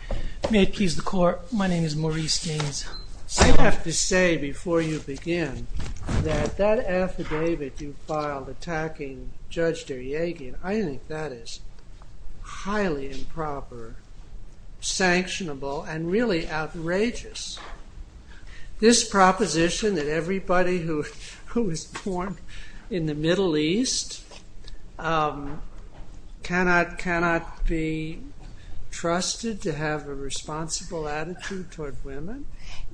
I have to say, before you begin, that that affidavit you filed attacking Judge Deryagin, I think that is highly improper, sanctionable, and really outrageous. This proposition that everybody who was born in the Middle East cannot be trusted to have a responsible attitude toward women?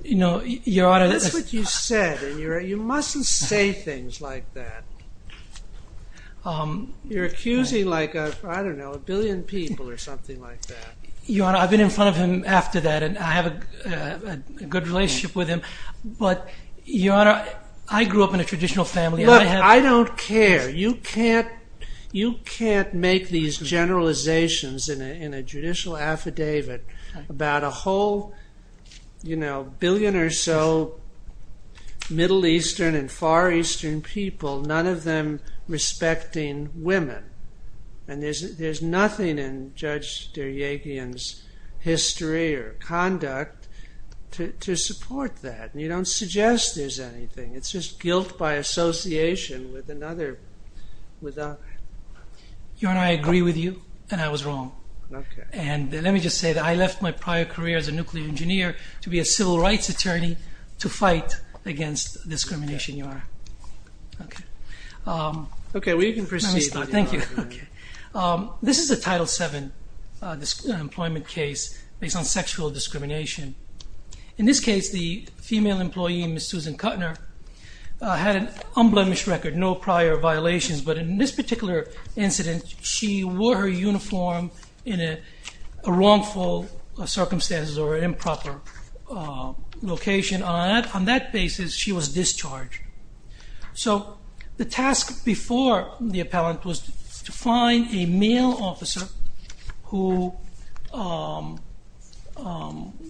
That's what you said, and you mustn't say things like that. You're accusing like a billion people or something like that. Your Honor, I've been in front of him after that, and I have a good relationship with him, but Your Honor, I grew up in a traditional family. Look, I don't care. You can't make these generalizations in a judicial affidavit about a whole billion or so Middle Eastern and Far Eastern people, none of them respecting women, and there's nothing in Judge Deryagin's history or conduct to support that. You don't suggest there's anything. It's just guilt by association with another. Your Honor, I agree with you, and I was wrong. Let me just say that I left my prior career as a nuclear engineer to be a civil rights attorney to fight against discrimination, Your Honor. Okay. Okay, we can proceed. Let me start. Thank you. This is a Title VII employment case based on sexual discrimination. In this case, the female employee, Ms. Susan Kuttner, had an unblemished record, no prior violations, but in this particular incident, she wore her uniform in a wrongful circumstance or improper location. On that basis, she was discharged. So the task before the appellant was to find a male officer who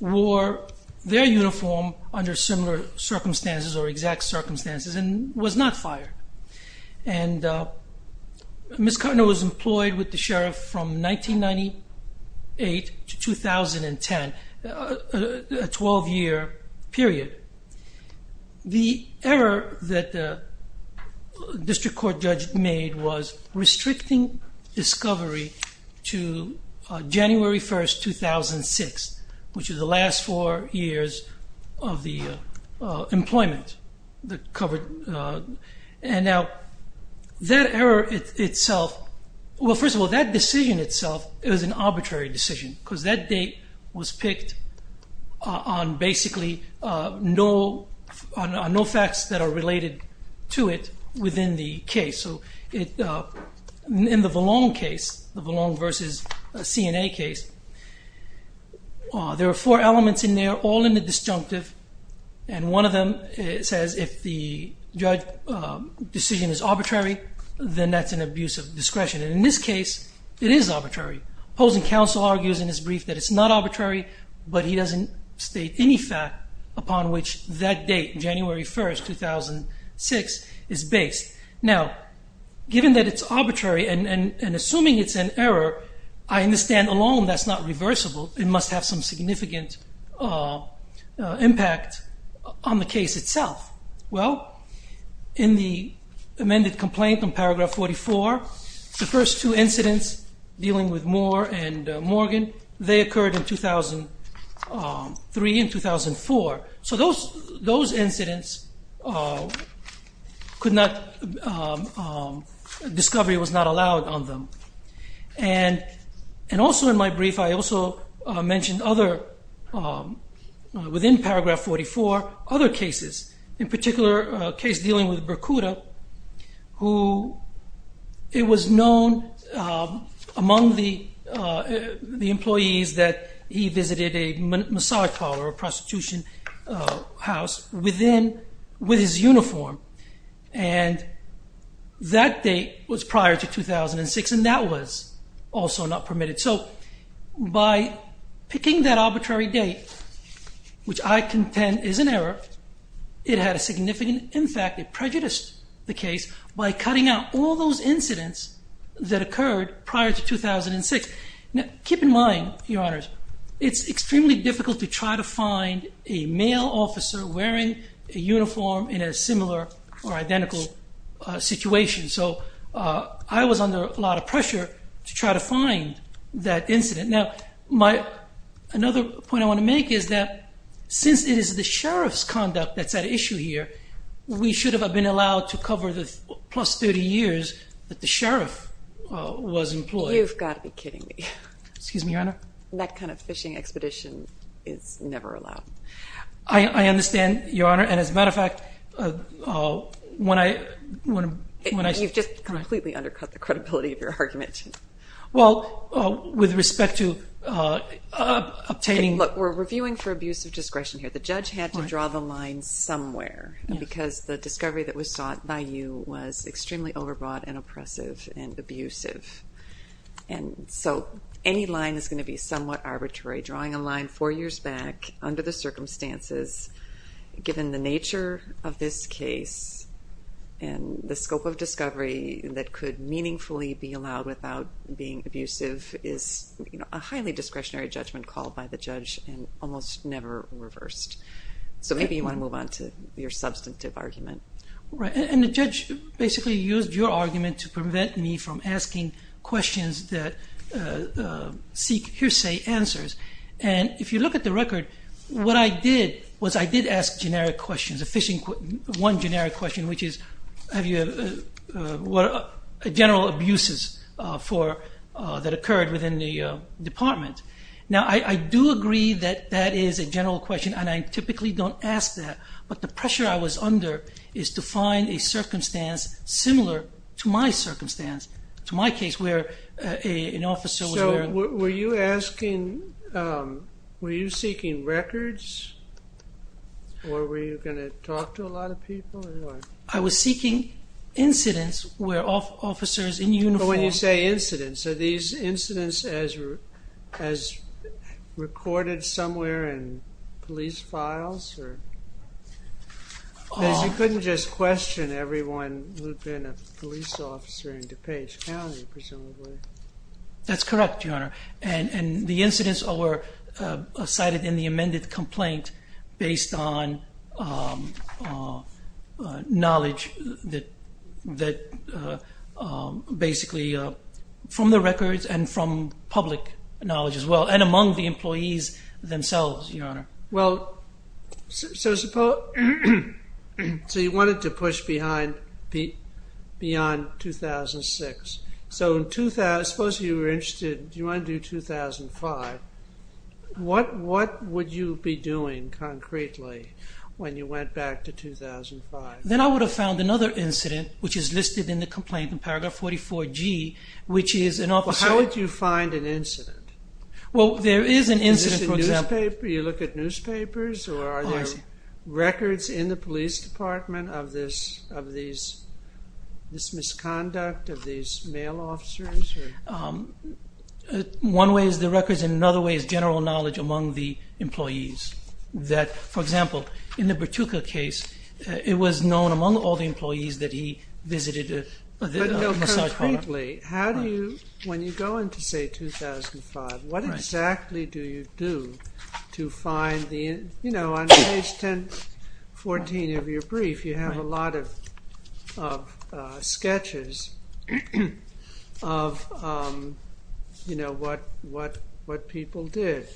wore their uniform under similar circumstances or exact circumstances and was not fired. And Ms. Kuttner was employed with the sheriff from 1998 to 2010, a 12-year period. The error that the district court judge made was restricting discovery to January 1, 2006, which is the last four years of the employment. And now, that error itself, well, first of all, that decision itself, it was an arbitrary decision because that date was picked on basically no facts that are related to it within the case. So in the Vallone case, the Vallone v. CNA case, there are four elements in there, all in the disjunctive, and one of them says if the judge's decision is arbitrary, then that's an abuse of discretion. And in this case, it is arbitrary. Opposing counsel argues in his brief that it's not arbitrary, but he doesn't state any fact upon which that date, January 1, 2006, is based. Now, given that it's arbitrary and assuming it's an error, I understand alone that's not reversible. It must have some significant impact on the case itself. Well, in the amended complaint in paragraph 44, the first two incidents dealing with Moore and Morgan, they occurred in 2003 and 2004. So those incidents could not, discovery was not allowed on them. And also in my brief, I also mentioned other, within paragraph 44, other cases. In particular, a case dealing with Burkuda, who it was known among the employees that he visited a massage parlor, a prostitution house, within, with his uniform. And that date was prior to 2006, and that was also not permitted. So by picking that arbitrary date, which I contend is an error, it had a significant impact. It prejudiced the case by cutting out all those incidents that occurred prior to 2006. Now, keep in mind, Your Honors, it's extremely difficult to try to find a male officer wearing a uniform in a similar or identical situation. So I was under a lot of pressure to try to find that incident. Now, my, another point I want to make is that since it is the Sheriff's conduct that's at issue here, we should have been allowed to cover the plus 30 years that the Sheriff was employed. You've got to be kidding me. Excuse me, Your Honor? That kind of fishing expedition is never allowed. I understand, Your Honor, and as a matter of fact, when I... You've just completely undercut the credibility of your argument. Well, with respect to obtaining... Look, we're reviewing for abuse of discretion here. The judge had to draw the line somewhere because the discovery that was sought by you was extremely overbroad and oppressive and abusive. And so any line is going to be somewhat arbitrary. Drawing a line four years back under the circumstances, given the nature of this case and the scope of discovery that could meaningfully be allowed without being abusive, is a highly discretionary judgment called by the judge and almost never reversed. So maybe you want to move on to your substantive argument. Right, and the judge basically used your argument to prevent me from asking questions that seek hearsay answers. And if you look at the record, what I did was I did ask generic questions, one generic question, which is, have you had general abuses that occurred within the department? Now, I do agree that that is a general question, and I typically don't ask that. But the pressure I was under is to find a circumstance similar to my circumstance, to my case, where an officer was wearing... So were you seeking records, or were you going to talk to a lot of people? I was seeking incidents where officers in uniform... So when you say incidents, are these incidents as recorded somewhere in police files? Because you couldn't just question everyone who'd been a police officer in DuPage County, presumably. That's correct, Your Honor, and the incidents were cited in the amended complaint based on knowledge that basically... from the records and from public knowledge as well, and among the employees themselves, Your Honor. Well, so you wanted to push beyond 2006. So suppose you were interested, do you want to do 2005? What would you be doing concretely when you went back to 2005? Then I would have found another incident, which is listed in the complaint in paragraph 44G, which is an officer... Well, how would you find an incident? Well, there is an incident, for example... Is this a newspaper? Do you look at newspapers? Or are there records in the police department of this misconduct of these male officers? One way is the records, and another way is general knowledge among the employees. For example, in the Bertuca case, it was known among all the employees that he visited a massage parlor. When you go into, say, 2005, what exactly do you do to find the... You know, on page 1014 of your brief, you have a lot of sketches of what people did.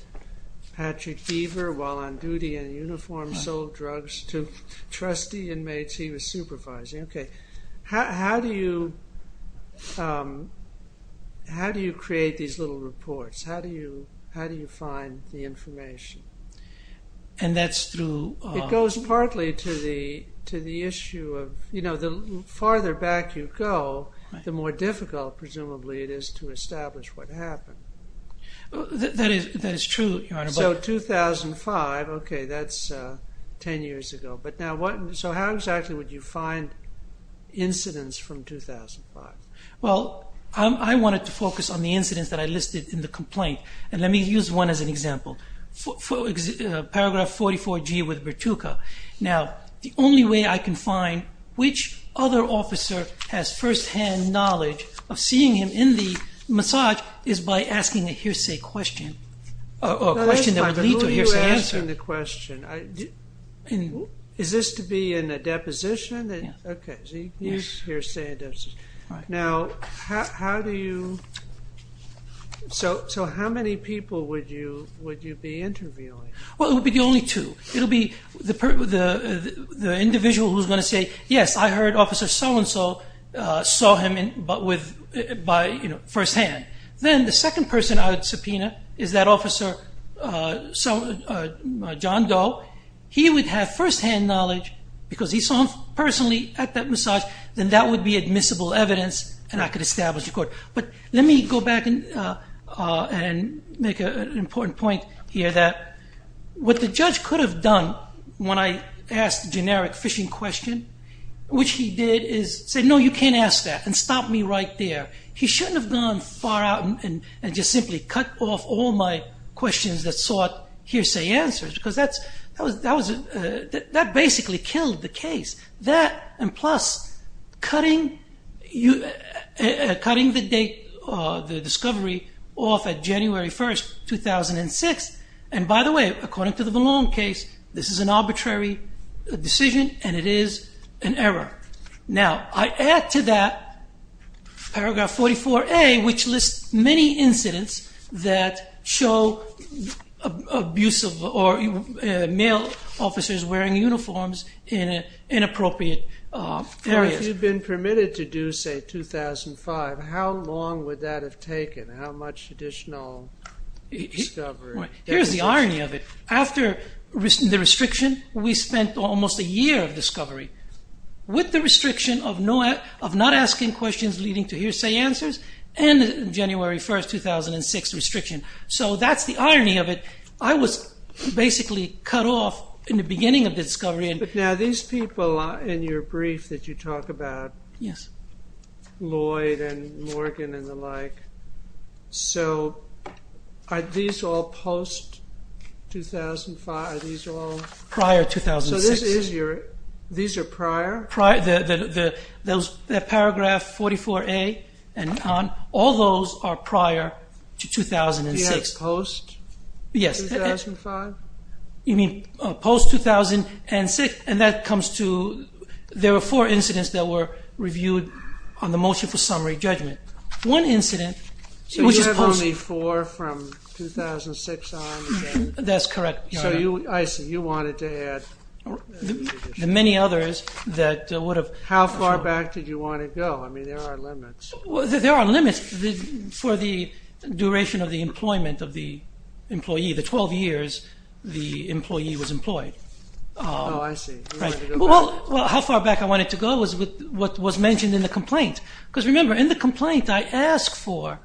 Patrick Beaver, while on duty in uniform, sold drugs to trustee inmates he was supervising. Okay. How do you create these little reports? How do you find the information? And that's through... It goes partly to the issue of, you know, the farther back you go, the more difficult, presumably, it is to establish what happened. That is true. So 2005, okay, that's 10 years ago. So how exactly would you find incidents from 2005? Well, I wanted to focus on the incidents that I listed in the complaint, and let me use one as an example. Paragraph 44G with Bertuca. Now, the only way I can find which other officer has first-hand knowledge of seeing him in the massage is by asking a hearsay question, or a question that would lead to a hearsay answer. Asking the question, is this to be in a deposition? Okay, hearsay and deposition. Now, how do you... So how many people would you be interviewing? Well, it would be only two. It would be the individual who's going to say, yes, I heard Officer So-and-so saw him first-hand. Then the second person I would subpoena is that Officer John Doe. He would have first-hand knowledge because he saw him personally at that massage, then that would be admissible evidence, and I could establish a court. But let me go back and make an important point here that what the judge could have done when I asked the generic fishing question, which he did, is say, no, you can't ask that, and stop me right there. He shouldn't have gone far out and just simply cut off all my questions that sought hearsay answers because that basically killed the case. That, and plus, cutting the discovery off at January 1st, 2006, and by the way, according to the Vallone case, this is an arbitrary decision and it is an error. Now, I add to that Paragraph 44A, which lists many incidents that show male officers wearing uniforms in inappropriate areas. If you'd been permitted to do, say, 2005, how long would that have taken? How much additional discovery? Here's the irony of it. After the restriction, we spent almost a year of discovery. With the restriction of not asking questions leading to hearsay answers and the January 1st, 2006 restriction. So that's the irony of it. I was basically cut off in the beginning of the discovery. But now these people in your brief that you talk about, Lloyd and Morgan and the like, so are these all post-2005? Prior to 2006. So these are prior? Paragraph 44A and on, all those are prior to 2006. Do you have post-2005? You mean post-2006? And that comes to, there were four incidents that were reviewed on the motion for summary judgment. One incident, which is post- So you have only four from 2006 on? That's correct. So you, I see, you wanted to add- The many others that would have- How far back did you want to go? I mean, there are limits. There are limits for the duration of the employment of the employee. The 12 years the employee was employed. Oh, I see. Well, how far back I wanted to go was what was mentioned in the complaint. Because remember, in the complaint, I asked for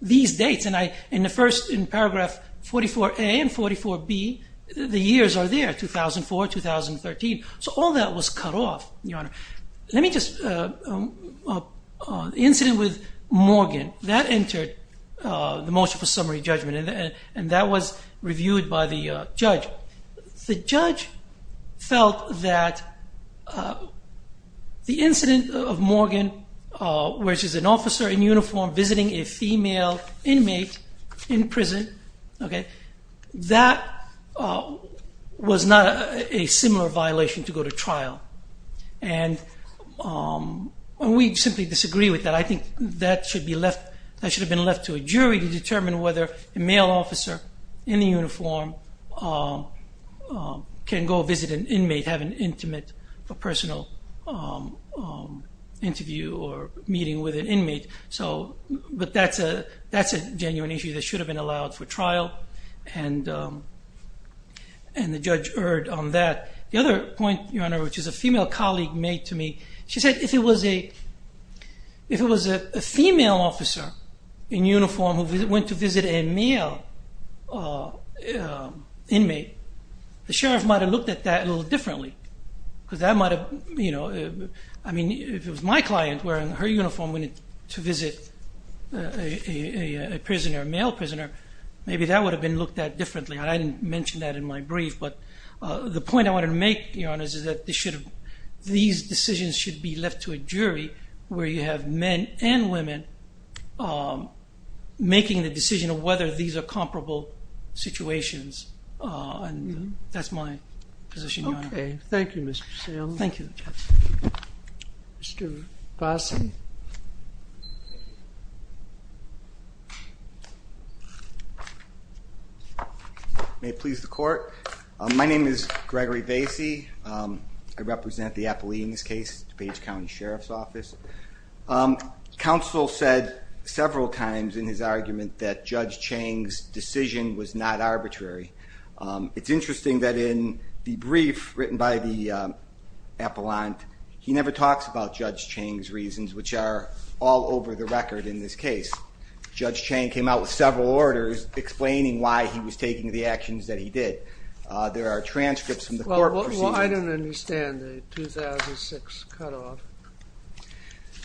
these dates and I, in the first, in paragraph 44A and 44B, the years are there, 2004, 2013. So all that was cut off, Your Honor. Let me just, the incident with Morgan, that entered the motion for summary judgment, and that was reviewed by the judge. The judge felt that the incident of Morgan, where she's an officer in uniform visiting a female inmate in prison, that was not a similar violation to go to trial. And we simply disagree with that. I think that should be left, that should have been left to a jury to determine whether a male officer in the uniform can go visit an inmate, have an intimate or personal interview or meeting with an inmate. But that's a genuine issue that should have been allowed for trial, and the judge erred on that. The other point, Your Honor, which a female colleague made to me, she said if it was a female officer in uniform who went to visit a male inmate, the sheriff might have looked at that a little differently, because that might have, you know, I mean if it was my client wearing her uniform to visit a male prisoner, maybe that would have been looked at differently. I didn't mention that in my brief. But the point I wanted to make, Your Honor, is that these decisions should be left to a jury where you have men and women making the decision of whether these are comparable situations. And that's my position, Your Honor. Okay. Thank you, Mr. Sam. Thank you. Mr. Vasey. May it please the Court. My name is Gregory Vasey. I represent the Appalachians case, DuPage County Sheriff's Office. Counsel said several times in his argument that Judge Chang's decision was not arbitrary. It's interesting that in the brief written by the appellant, he never talks about Judge Chang's reasons, which are all over the record in this case. Judge Chang came out with several orders explaining why he was taking the actions that he did. There are transcripts from the court proceedings. I don't understand the 2006 cutoff.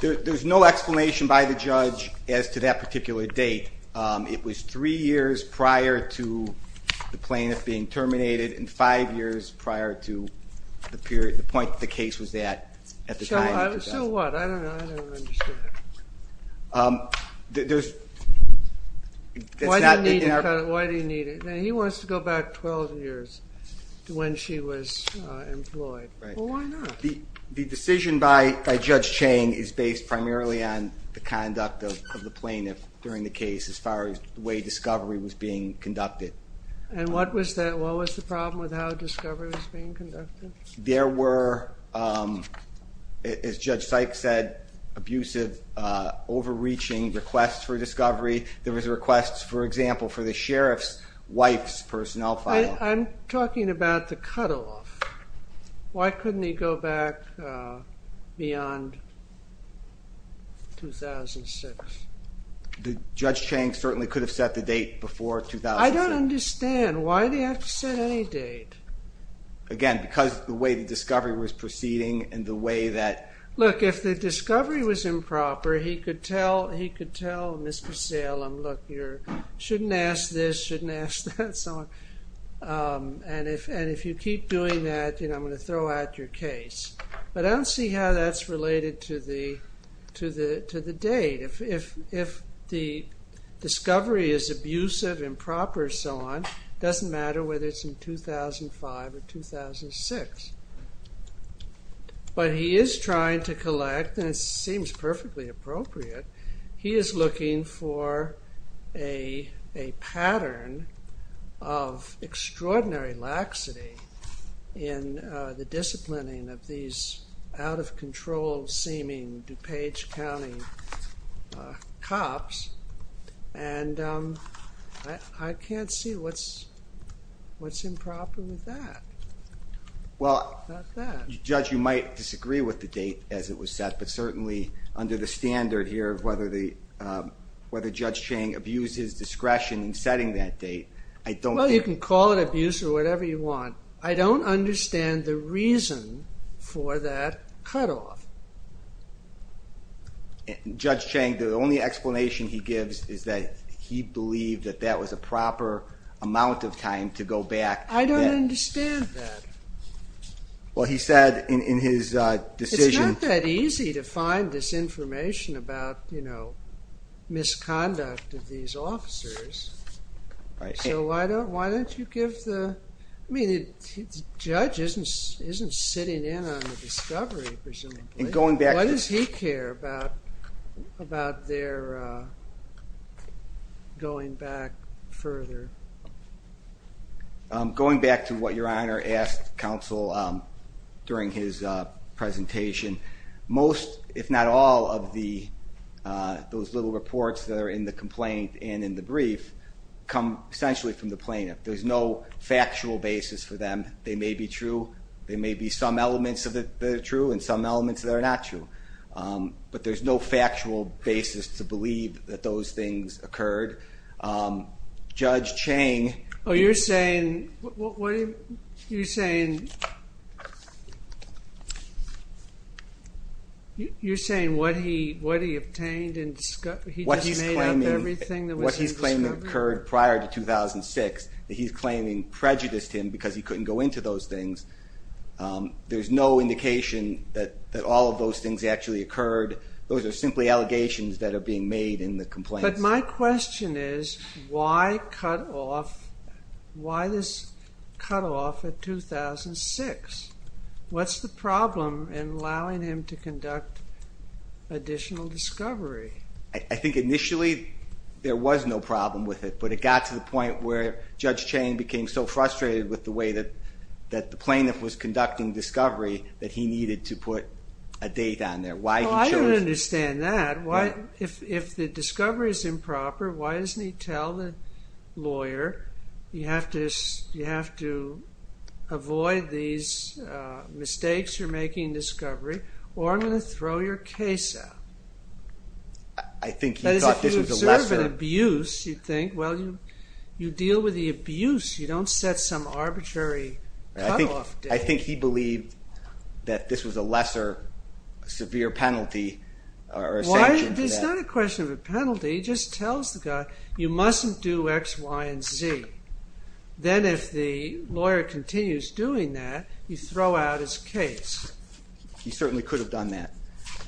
There's no explanation by the judge as to that particular date. It was three years prior to the plaintiff being terminated and five years prior to the point the case was at at the time. So what? I don't know. I don't understand. There's... Why do you need it? He wants to go back 12 years to when she was employed. Well, why not? The decision by Judge Chang is based primarily on the conduct of the plaintiff during the case as far as the way discovery was being conducted. And what was the problem with how discovery was being conducted? There were, as Judge Sykes said, abusive, overreaching requests for discovery. There were requests, for example, for the sheriff's wife's personnel file. I'm talking about the cutoff. Why couldn't he go back beyond 2006? Judge Chang certainly could have set the date before 2006. I don't understand. Why did he have to set any date? Again, because of the way the discovery was proceeding and the way that... Look, if the discovery was improper, he could tell Ms. Casale, look, you shouldn't ask this, shouldn't ask that, so on. And if you keep doing that, then I'm going to throw out your case. But I don't see how that's related to the date. If the discovery is abusive, improper, so on, it doesn't matter whether it's in 2005 or 2006. But he is trying to collect, and it seems perfectly appropriate, he is looking for a pattern of extraordinary laxity in the disciplining of these out-of-control seeming DuPage County cops. And I can't see what's improper with that. Well, Judge, you might disagree with the date as it was set, but certainly under the standard here of whether Judge Chang abused his discretion in setting that date, I don't think... Well, you can call it abuse or whatever you want. I don't understand the reason for that cutoff. Judge Chang, the only explanation he gives is that he believed that that was a proper amount of time to go back. I don't understand that. Well, he said in his decision... It's not that easy to find this information about, you know, misconduct of these officers. So why don't you give the... I mean, Judge isn't sitting in on the discovery, presumably. What does he care about their going back further? Going back to what Your Honor asked counsel during his presentation, most, if not all, of those little reports that are in the complaint and in the brief come essentially from the plaintiff. There's no factual basis for them. They may be true. There may be some elements that are true and some elements that are not true. But there's no factual basis to believe that those things occurred. Judge Chang... Oh, you're saying... You're saying what he obtained... What he's claiming occurred prior to 2006 that he's claiming prejudiced him because he couldn't go into those things. There's no indication that all of those things actually occurred. Those are simply allegations that are being made in the complaint. But my question is, why cut off... Why this cut off at 2006? What's the problem in allowing him to conduct additional discovery? I think initially there was no problem with it, but it got to the point where Judge Chang became so frustrated with the way that the plaintiff was conducting discovery that he needed to put a date on there, why he chose... Well, I don't understand that. If the discovery is improper, why doesn't he tell the lawyer, you have to avoid these mistakes you're making in discovery, or I'm going to throw your case out? I think he thought this was a lesser... That is, if you observe an abuse, you think, well, you deal with the abuse. You don't set some arbitrary cut off date. I think he believed that this was a lesser severe penalty. It's not a question of a penalty. He just tells the guy, you mustn't do X, Y, and Z. Then if the lawyer continues doing that, you throw out his case. He certainly could have done that.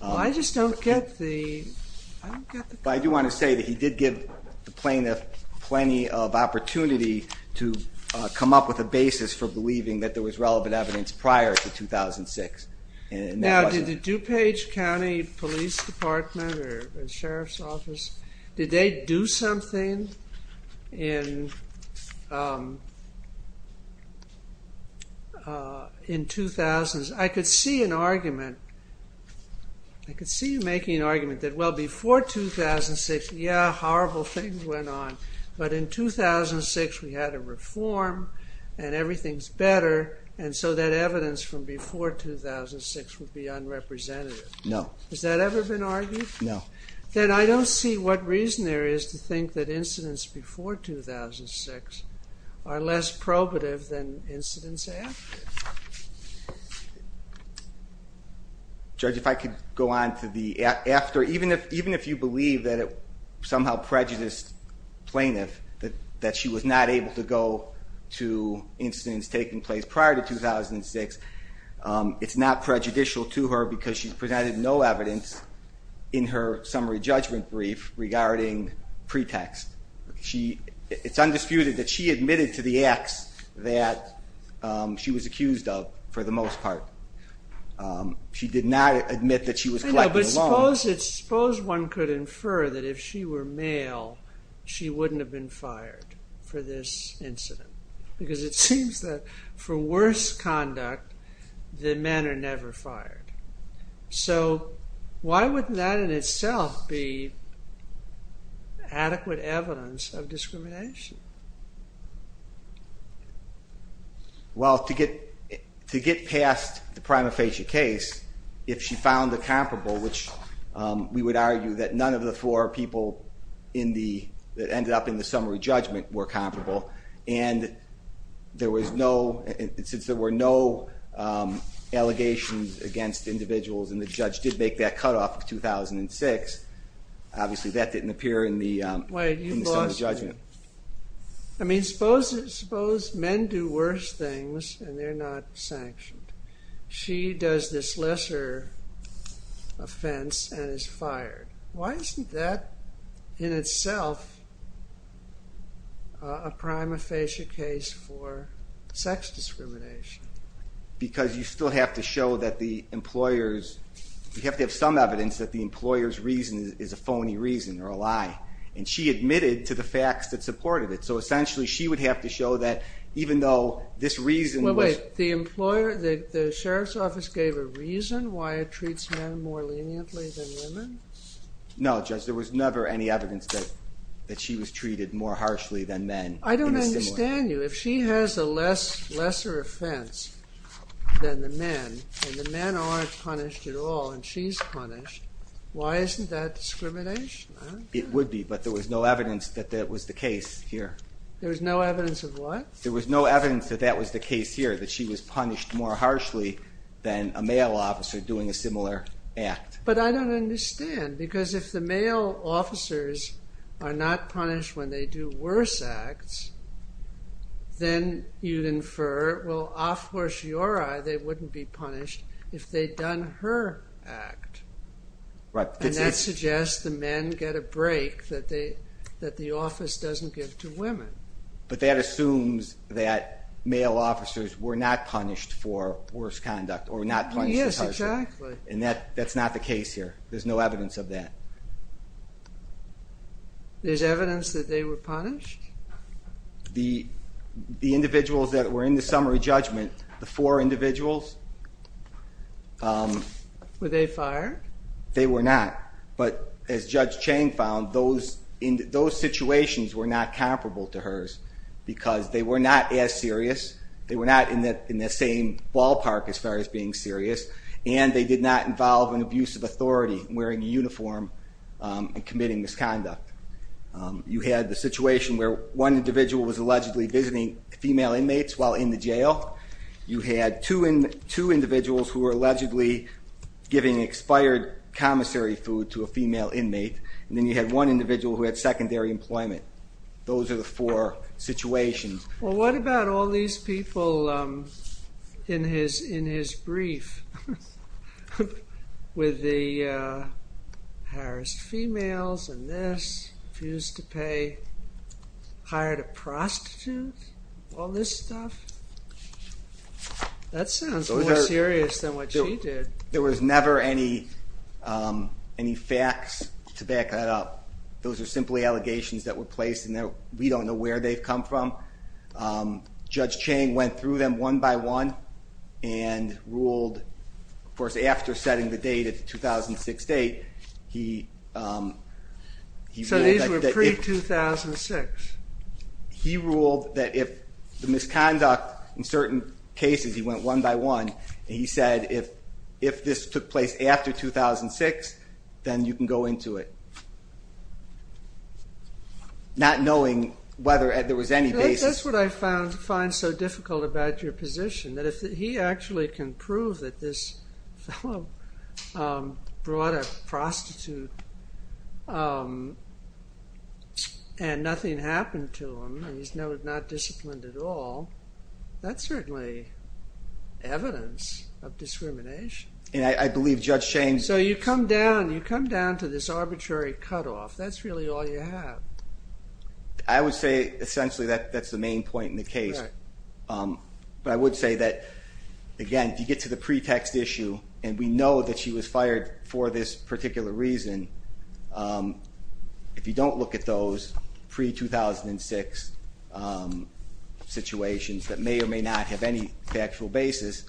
I just don't get the... I do want to say that he did give the plaintiff plenty of opportunity to come up with a basis for believing that there was relevant evidence prior to 2006. Now, did the DuPage County Police Department or the Sheriff's Office, did they do something in 2000s? I could see an argument. I could see you making an argument that, well, before 2006, yeah, horrible things went on, but in 2006 we had a reform and everything's better, and so that evidence from before 2006 would be unrepresentative. No. Has that ever been argued? No. Then I don't see what reason there is to think that incidents before 2006 are less probative than incidents after. Judge, if I could go on to the after. Even if you believe that it somehow prejudiced plaintiff, that she was not able to go to incidents taking place prior to 2006, it's not prejudicial to her because she presented no evidence in her summary judgment brief regarding pretext. It's undisputed that she admitted to the acts that she was accused of for the most part. She did not admit that she was collecting the loans. But suppose one could infer that if she were male she wouldn't have been fired for this incident because it seems that for worse conduct the men are never fired. So why wouldn't that in itself be adequate evidence of discrimination? Well, to get past the prima facie case, if she found a comparable, which we would argue that none of the four people that ended up in the summary judgment were comparable, and since there were no allegations against individuals and the judge did make that cutoff of 2006, obviously that didn't appear in the summary judgment. I mean, suppose men do worse things and they're not sanctioned. She does this lesser offense and is fired. Why isn't that in itself a prima facie case for sex discrimination? Because you still have to show that the employer's... You have to have some evidence that the employer's reason is a phony reason or a lie. And she admitted to the facts that supported it. So essentially she would have to show that even though this reason was... Wait, the sheriff's office gave a reason why it treats men more leniently than women? No, Judge, there was never any evidence that she was treated more harshly than men in the summary. I don't understand you. If she has a lesser offense than the men and the men aren't punished at all and she's punished, why isn't that discrimination? It would be, but there was no evidence that that was the case here. There was no evidence of what? There was no evidence that that was the case here, that she was punished more harshly than a male officer doing a similar act. But I don't understand because if the male officers are not punished when they do worse acts, then you'd infer, well, a fortiori they wouldn't be punished if they'd done her act. And that suggests the men get a break that the office doesn't give to women. But that assumes that male officers were not punished for worse conduct or were not punished for harshly. Yes, exactly. And that's not the case here. There's no evidence of that. There's evidence that they were punished? The individuals that were in the summary judgment, the four individuals... Were they fired? They were not. But as Judge Chang found, those situations were not comparable to hers because they were not as serious, they were not in the same ballpark as far as being serious, and they did not involve an abusive authority wearing a uniform and committing misconduct. You had the situation where one individual was allegedly visiting female inmates while in the jail. You had two individuals who were allegedly giving expired commissary food to a female inmate. And then you had one individual who had secondary employment. Those are the four situations. Well, what about all these people in his brief with the harassed females and this, refused to pay, hired a prostitute, all this stuff? That sounds more serious than what she did. There was never any facts to back that up. Those are simply allegations that were placed and we don't know where they've come from. Judge Chang went through them one by one and ruled, of course, after setting the date at the 2006 date... So these were pre-2006? He ruled that if the misconduct in certain cases, he went one by one and he said, if this took place after 2006, then you can go into it. Not knowing whether there was any basis... That's what I find so difficult about your position, that if he actually can prove that this fellow brought a prostitute and nothing happened to him and he's not disciplined at all, that's certainly evidence of discrimination. And I believe Judge Chang... So you come down to this arbitrary cutoff. That's really all you have. I would say, essentially, that's the main point in the case. But I would say that, again, if you get to the pretext issue and we know that she was fired for this particular reason, if you don't look at those pre-2006 situations that may or may not have any factual basis,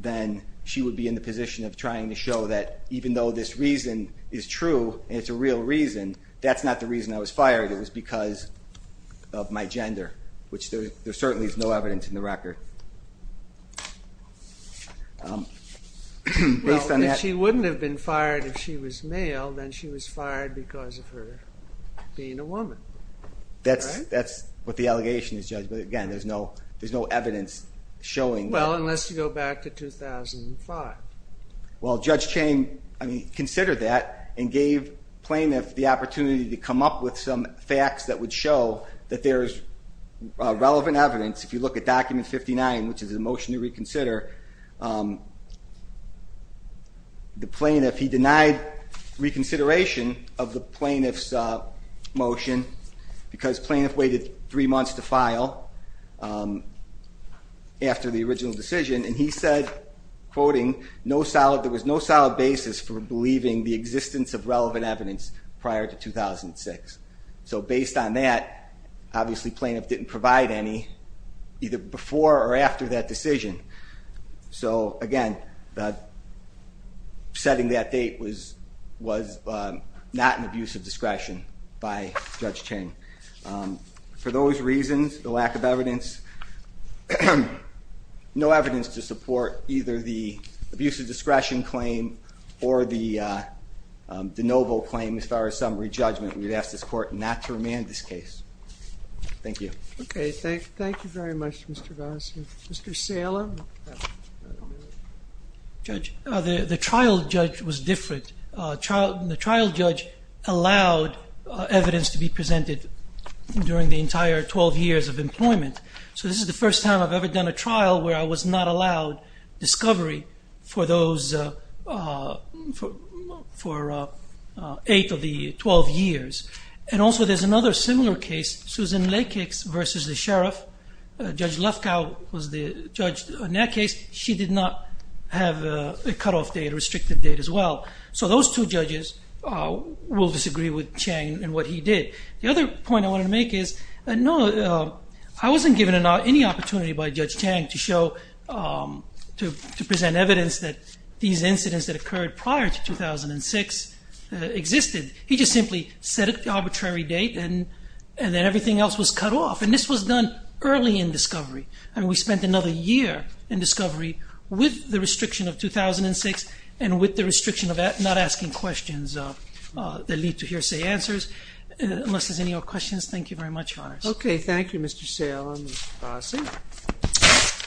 then she would be in the position of trying to show that even though this reason is true and it's a real reason, that's not the reason I was fired. It was because of my gender, which there certainly is no evidence in the record. Well, if she wouldn't have been fired if she was male, then she was fired because of her being a woman. That's what the allegation is, Judge. But again, there's no evidence showing that. Well, unless you go back to 2005. Well, Judge Chang considered that and gave plaintiffs the opportunity to come up with some facts that would show that there's relevant evidence. If you look at Document 59, which is a motion to reconsider, the plaintiff, he denied reconsideration of the plaintiff's motion because plaintiff waited three months to file after the original decision, and he said, quoting, there was no solid basis for believing the existence of relevant evidence prior to 2006. So based on that, obviously plaintiff didn't provide any either before or after that decision. So again, setting that date was not an abuse of discretion by Judge Chang. For those reasons, the lack of evidence, no evidence to support either the abuse of discretion claim or the no vote claim as far as summary judgment, we'd ask this court not to remand this case. Thank you. Okay, thank you very much, Mr. Goss. Mr. Salem. Judge, the trial judge was different. The trial judge allowed evidence to be presented during the entire 12 years of employment. So this is the first time I've ever done a trial where I was not allowed discovery for 8 of the 12 years. And also there's another similar case, Susan Lakix versus the sheriff. Judge Lefkow was the judge in that case. She did not have a cutoff date, a restricted date as well. So those two judges will disagree with Chang and what he did. The other point I want to make is, no, I wasn't given any opportunity by Judge Chang to present evidence that these incidents that occurred prior to 2006 existed. He just simply set an arbitrary date and then everything else was cut off. And this was done early in discovery. And we spent another year in discovery with the restriction of 2006 and with the restriction of not asking questions that lead to hearsay answers. Unless there's any other questions, thank you very much, Your Honors. Okay, thank you, Mr. Salem and Mr. Goss.